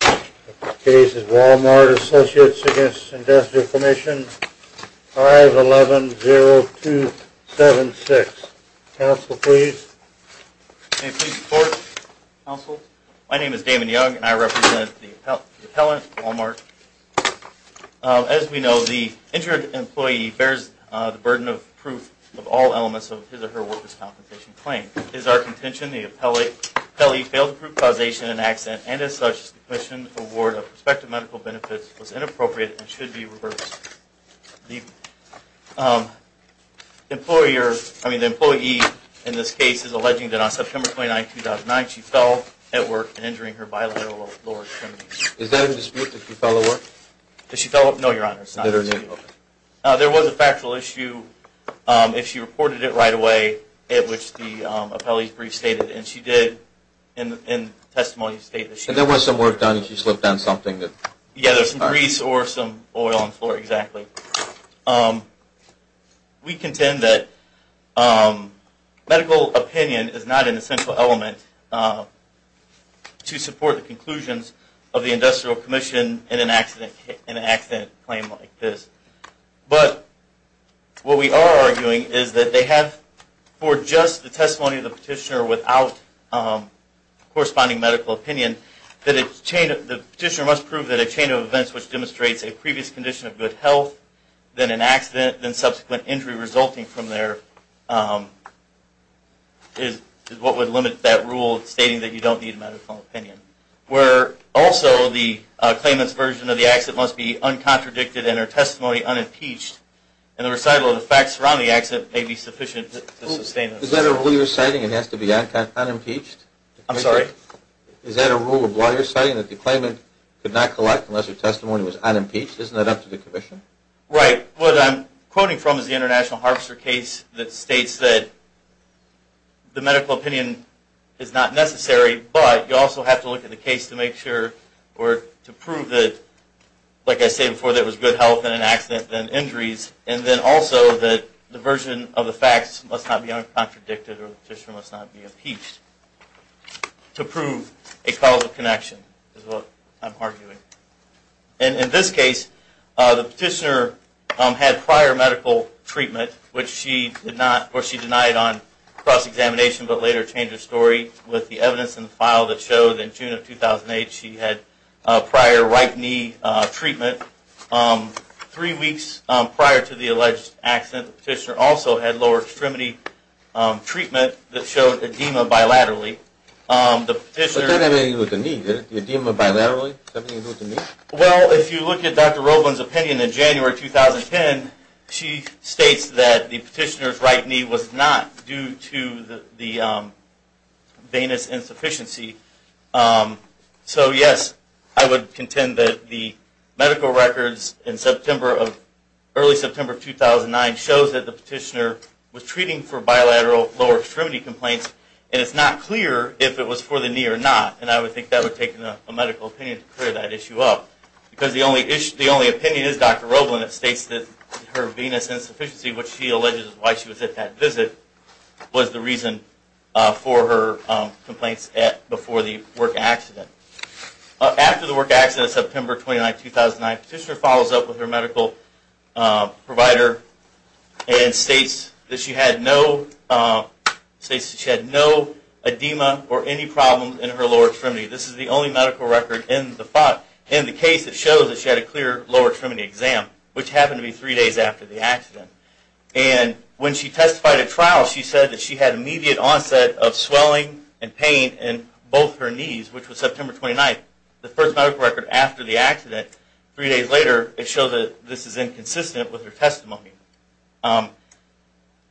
The case is Wal-Mart Associates v. Industrial Commission, 5110276. Counsel, please. Can I please report, Counsel? My name is Damon Young, and I represent the appellant, Wal-Mart. As we know, the injured employee bears the burden of proof of all elements of his or her workers' compensation claim. It is our contention the appellee failed to prove causation in an accident, and as such, the Commission's award of prospective medical benefits was inappropriate and should be reversed. The employee in this case is alleging that on September 29, 2009, she fell at work and injuring her bilateral lower extremities. Is that in dispute, that she fell at work? Did she fall at work? No, Your Honor, it's not in dispute. There was a factual issue, if she reported it right away, at which the appellee's brief stated, and she did, in testimony state that she... And there was some work done, and she slipped on something that... Yeah, there was some grease or some oil on the floor, exactly. We contend that medical opinion is not an essential element to support the conclusions of the Industrial Commission in an accident claim like this. But what we are arguing is that they have, for just the testimony of the petitioner without corresponding medical opinion, that the petitioner must prove that a chain of events which demonstrates a previous condition of good health, then an accident, then subsequent injury resulting from there, is what would limit that rule stating that you don't need medical opinion. Where also the claimant's version of the accident must be uncontradicted and her testimony unimpeached, and the recital of the facts surrounding the accident may be sufficient to sustain... Is that a rule you're citing, it has to be unimpeached? I'm sorry? Is that a rule of law you're citing, that the claimant could not collect unless her testimony was unimpeached? Isn't that up to the Commission? Right. What I'm quoting from is the International Harvester case that states that the medical opinion is not necessary, but you also have to look at the case to make sure, or to prove that, like I said before, that it was good health and an accident, then injuries, and then also that the version of the facts must not be uncontradicted or the petitioner must not be impeached to prove a causal connection, is what I'm arguing. And in this case, the petitioner had prior medical treatment, which she denied on cross-examination, but later changed her story with the evidence in the file that showed in June of 2008 she had prior right knee treatment. Three weeks prior to the alleged accident, the petitioner also had lower extremity treatment that showed edema bilaterally. But that didn't have anything to do with the knee, did it? The edema bilaterally? Well, if you look at Dr. Roblin's opinion in January 2010, she states that the petitioner's right knee was not due to the venous insufficiency. So yes, I would contend that the medical records in early September 2009 shows that the petitioner was treating for bilateral lower extremity complaints, and it's not clear if it was for the knee or not, and I would think that would take a medical opinion to clear that issue up. Because the only opinion is Dr. Roblin that states that her venous insufficiency, which she alleges is why she was at that visit, was the reason for her complaints before the work accident. After the work accident of September 29, 2009, the petitioner follows up with her medical provider and states that she had no edema or any problems in her lower extremity. This is the only medical record in the case that shows that she had a clear lower extremity exam, which happened to be three days after the accident. And when she testified at trial, she said that she had immediate onset of swelling and pain in both her knees, which was September 29. The first medical record after the accident, three days later, it shows that this is inconsistent with her testimony.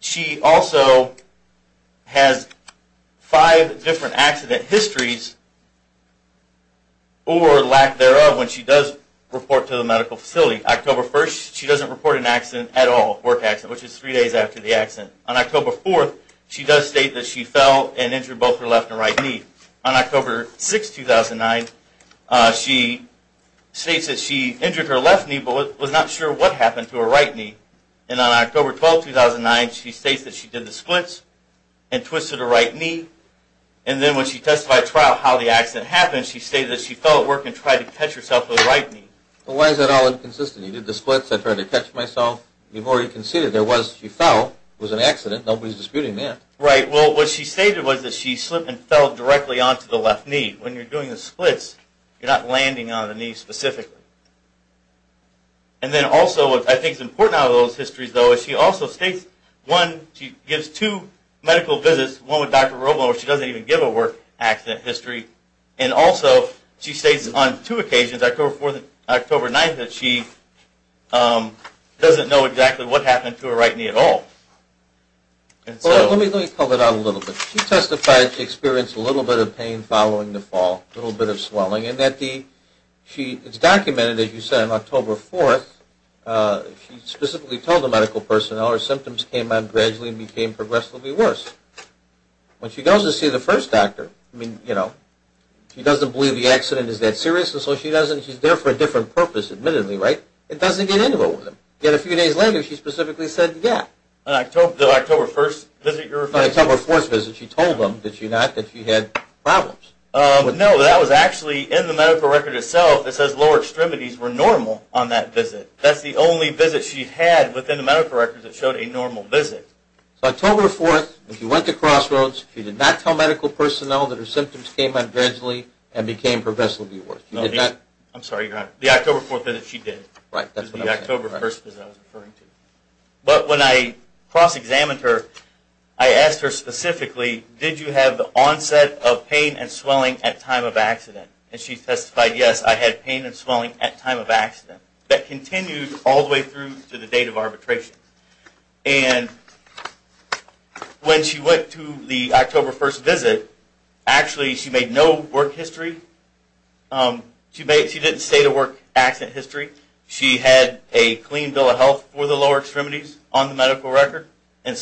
She also has five different accident histories, or lack thereof, when she does report to the medical facility. October 1st, she doesn't report an accident at all, which is three days after the accident. On October 4th, she does state that she fell and injured both her left and right knee. On October 6th, 2009, she states that she injured her left knee but was not sure what happened to her right knee. And on October 12th, 2009, she states that she did the splits and twisted her right knee. And then when she testified at trial how the accident happened, she stated that she fell at work and tried to catch herself with her right knee. Well, why is that all inconsistent? You did the splits, I tried to catch myself. You've already conceded there was, she fell, it was an accident, nobody's disputing that. Right, well, what she stated was that she slipped and fell directly onto the left knee. When you're doing the splits, you're not landing on the knee specifically. And then also, what I think is important out of those histories, though, is she also states, one, she gives two medical visits, one with Dr. Roble, where she doesn't even give a work accident history. And also, she states on two occasions, October 4th and October 9th, that she doesn't know exactly what happened to her right knee at all. Let me pull it out a little bit. She testified to experience a little bit of pain following the fall, a little bit of swelling. And that the, she, it's documented, as you said, on October 4th, she specifically told the medical personnel her symptoms came on gradually and became progressively worse. When she goes to see the first doctor, I mean, you know, she doesn't believe the accident is that serious, and so she doesn't, she's there for a different purpose, admittedly, right? It doesn't get anywhere with them. Yet a few days later, she specifically said, yeah. The October 1st visit you're referring to? The October 4th visit. She told them, did she not, that she had problems. No, that was actually in the medical record itself. It says lower extremities were normal on that visit. That's the only visit she had within the medical record that showed a normal visit. So October 4th, she went to Crossroads. She did not tell medical personnel that her symptoms came on gradually and became progressively worse. I'm sorry, you're not. The October 4th visit, she did. Right, that's what I'm saying. The October 1st visit I was referring to. But when I cross-examined her, I asked her specifically, did you have the onset of pain and swelling at time of accident? And she testified, yes, I had pain and swelling at time of accident. That continued all the way through to the date of arbitration. And when she went to the October 1st visit, actually she made no work history. She didn't state a work accident history. She had a clean bill of health for the lower extremities on the medical record. Where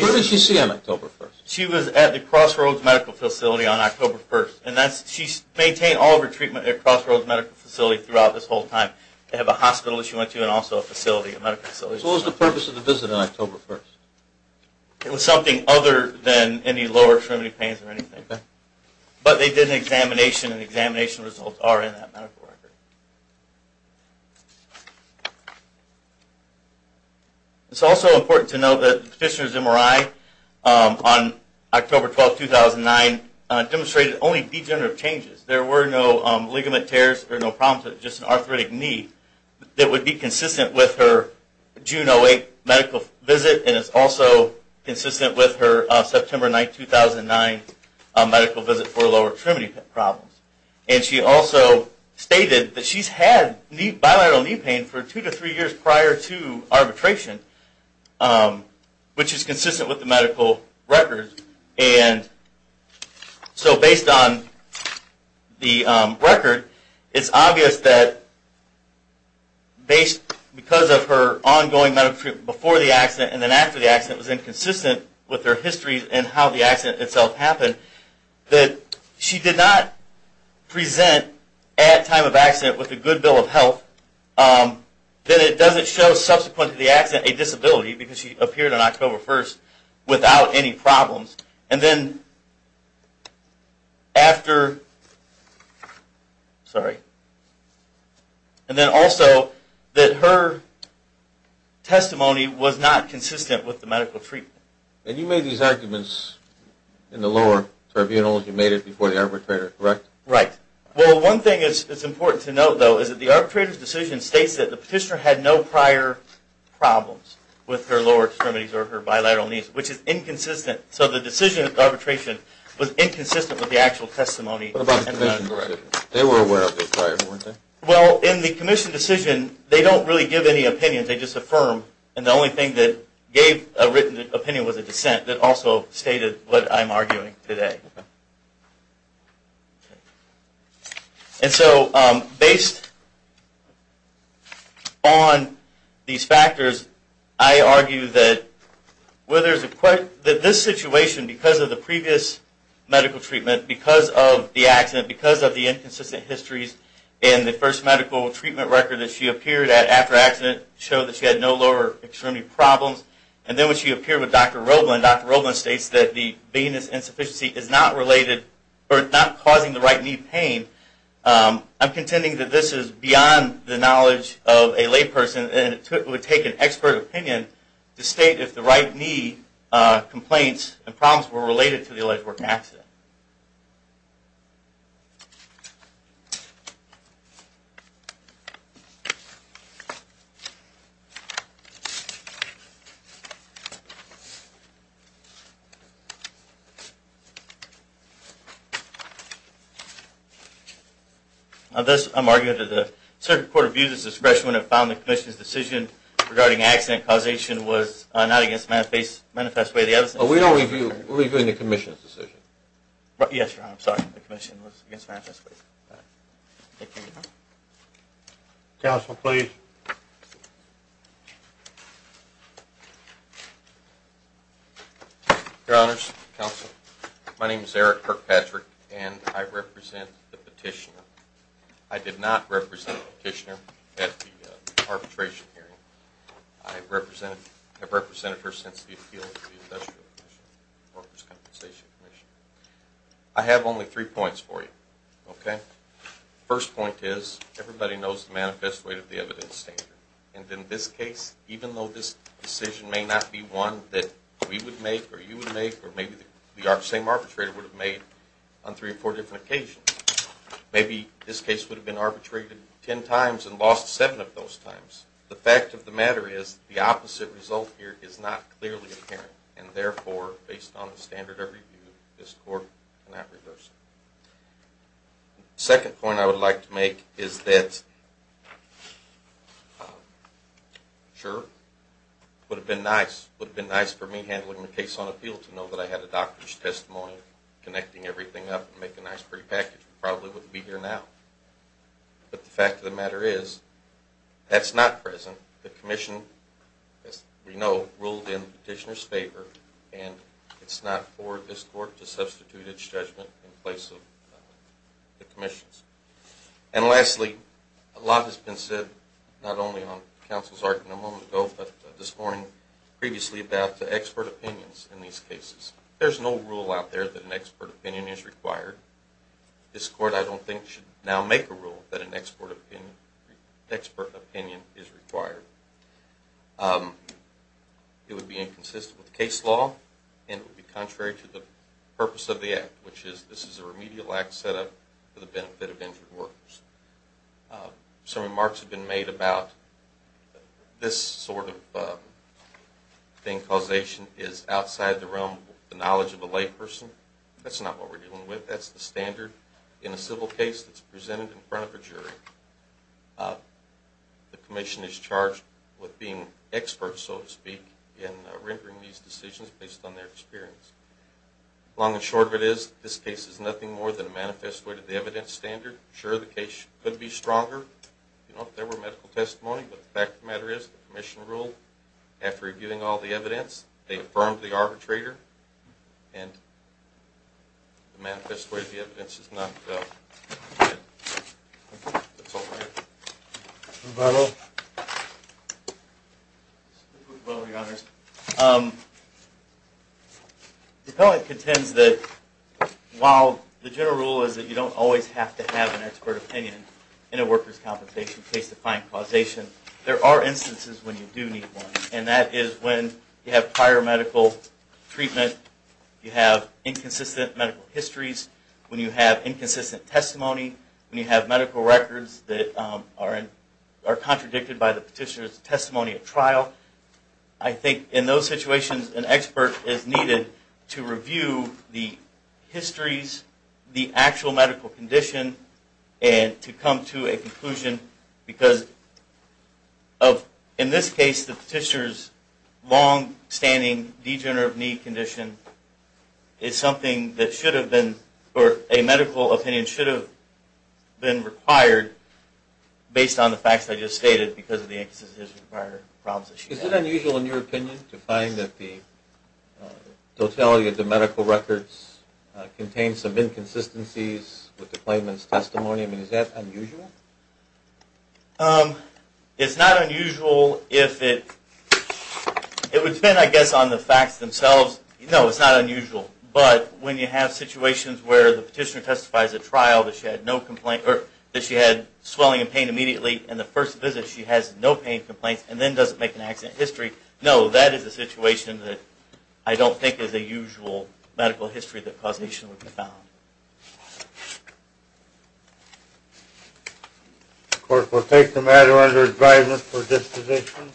did she see him October 1st? She was at the Crossroads Medical Facility on October 1st. She maintained all of her treatment at Crossroads Medical Facility throughout this whole time. They have a hospital that she went to and also a facility, a medical facility. So what was the purpose of the visit on October 1st? It was something other than any lower extremity pains or anything. But they did an examination, and the examination results are in that medical record. It's also important to note that the petitioner's MRI on October 12, 2009, demonstrated only degenerative changes. There were no ligament tears or no problems with just an arthritic knee. It would be consistent with her June 08 medical visit, and it's also consistent with her September 9, 2009 medical visit for lower extremity problems. And she also stated that she's had bilateral knee pain for two to three years prior to arbitration, which is consistent with the medical record. And so based on the record, it's obvious that because of her ongoing medical treatment before the accident and then after the accident was inconsistent with her history and how the accident itself happened, that she did not present at time of accident with a good bill of health. Then it doesn't show subsequent to the accident a disability, because she appeared on October 1st without any problems. And then also that her testimony was not consistent with the medical treatment. And you made these arguments in the lower tribunals. You made it before the arbitrator, correct? Right. Well, one thing that's important to note, though, is that the arbitrator's decision states that the petitioner had no prior problems with her lower extremities or her bilateral knees, which is inconsistent. So the decision of arbitration was inconsistent with the actual testimony. What about the commission decision? They were aware of it prior, weren't they? Well, in the commission decision, they don't really give any opinions. They just affirm. And the only thing that gave a written opinion was a dissent that also stated what I'm arguing today. Okay. And so based on these factors, I argue that this situation, because of the previous medical treatment, because of the accident, because of the inconsistent histories in the first medical treatment record that she appeared at after accident showed that she had no lower extremity problems. And then when she appeared with Dr. Roblin, and Dr. Roblin states that the venous insufficiency is not causing the right knee pain, I'm contending that this is beyond the knowledge of a layperson, and it would take an expert opinion to state if the right knee complaints and problems were related to the alleged work accident. Thank you. Thus, I'm arguing that the Circuit Court of Views' discretion when it found the commission's decision regarding accident causation was not against the manifest way of the evidence. We're reviewing the commission's decision. Yes, Your Honor. I'm sorry. The commission was against the manifest way. Thank you, Your Honor. Counsel, please. Your Honors, Counsel, my name is Eric Kirkpatrick, and I represent the petitioner. I did not represent the petitioner at the arbitration hearing. I have represented her since the appeal of the Industrial Commission, Workers' Compensation Commission. I have only three points for you, okay? The first point is everybody knows the manifest way of the evidence standard, and in this case, even though this decision may not be one that we would make or you would make or maybe the same arbitrator would have made on three or four different occasions, maybe this case would have been arbitrated ten times and lost seven of those times. The fact of the matter is the opposite result here is not clearly apparent, and therefore, based on the standard of review, this court cannot reverse it. The second point I would like to make is that, sure, it would have been nice. It would have been nice for me handling the case on appeal to know that I had a doctor's testimony connecting everything up and making a nice, pretty package. I probably wouldn't be here now. But the fact of the matter is that's not present. The Commission, as we know, ruled in the petitioner's favor, and it's not for this court to substitute its judgment in place of the Commission's. And lastly, a lot has been said not only on counsel's argument a moment ago but this morning previously about the expert opinions in these cases. There's no rule out there that an expert opinion is required. This court, I don't think, should now make a rule that an expert opinion is required. It would be inconsistent with case law, and it would be contrary to the purpose of the Act, which is this is a remedial Act set up for the benefit of injured workers. Some remarks have been made about this sort of thing, causation, is outside the realm of the knowledge of a layperson. That's not what we're dealing with. That's the standard in a civil case that's presented in front of a jury. The Commission is charged with being experts, so to speak, in rendering these decisions based on their experience. Long and short of it is this case is nothing more than a manifest way to the evidence standard. Sure, the case could be stronger if there were medical testimony, but the fact of the matter is the Commission ruled after reviewing all the evidence they affirmed the arbitrator, and the manifest way to the evidence is not good. That's all I have. Rebuttal. Rebuttal to the others. The appellant contends that while the general rule is that you don't always have to have an expert opinion in a workers' compensation case to find causation, there are instances when you do need one, and that is when you have prior medical treatment, you have inconsistent medical histories, when you have inconsistent testimony, when you have medical records that are contradicted by the petitioner's testimony at trial. And to come to a conclusion because in this case the petitioner's long-standing degenerative knee condition is something that should have been, or a medical opinion should have been required based on the facts I just stated because of the inconsistent prior problems that she had. Is it unusual in your opinion to find that the totality of the medical records contain some inconsistencies with the claimant's testimony? I mean, is that unusual? It's not unusual if it... It would depend, I guess, on the facts themselves. No, it's not unusual. But when you have situations where the petitioner testifies at trial that she had swelling and pain immediately and the first visit she has no pain complaints and then doesn't make an accident history, no, that is a situation that I don't think is a usual medical history that causation would be found. Of course, we'll take the matter under his guidance for disposition.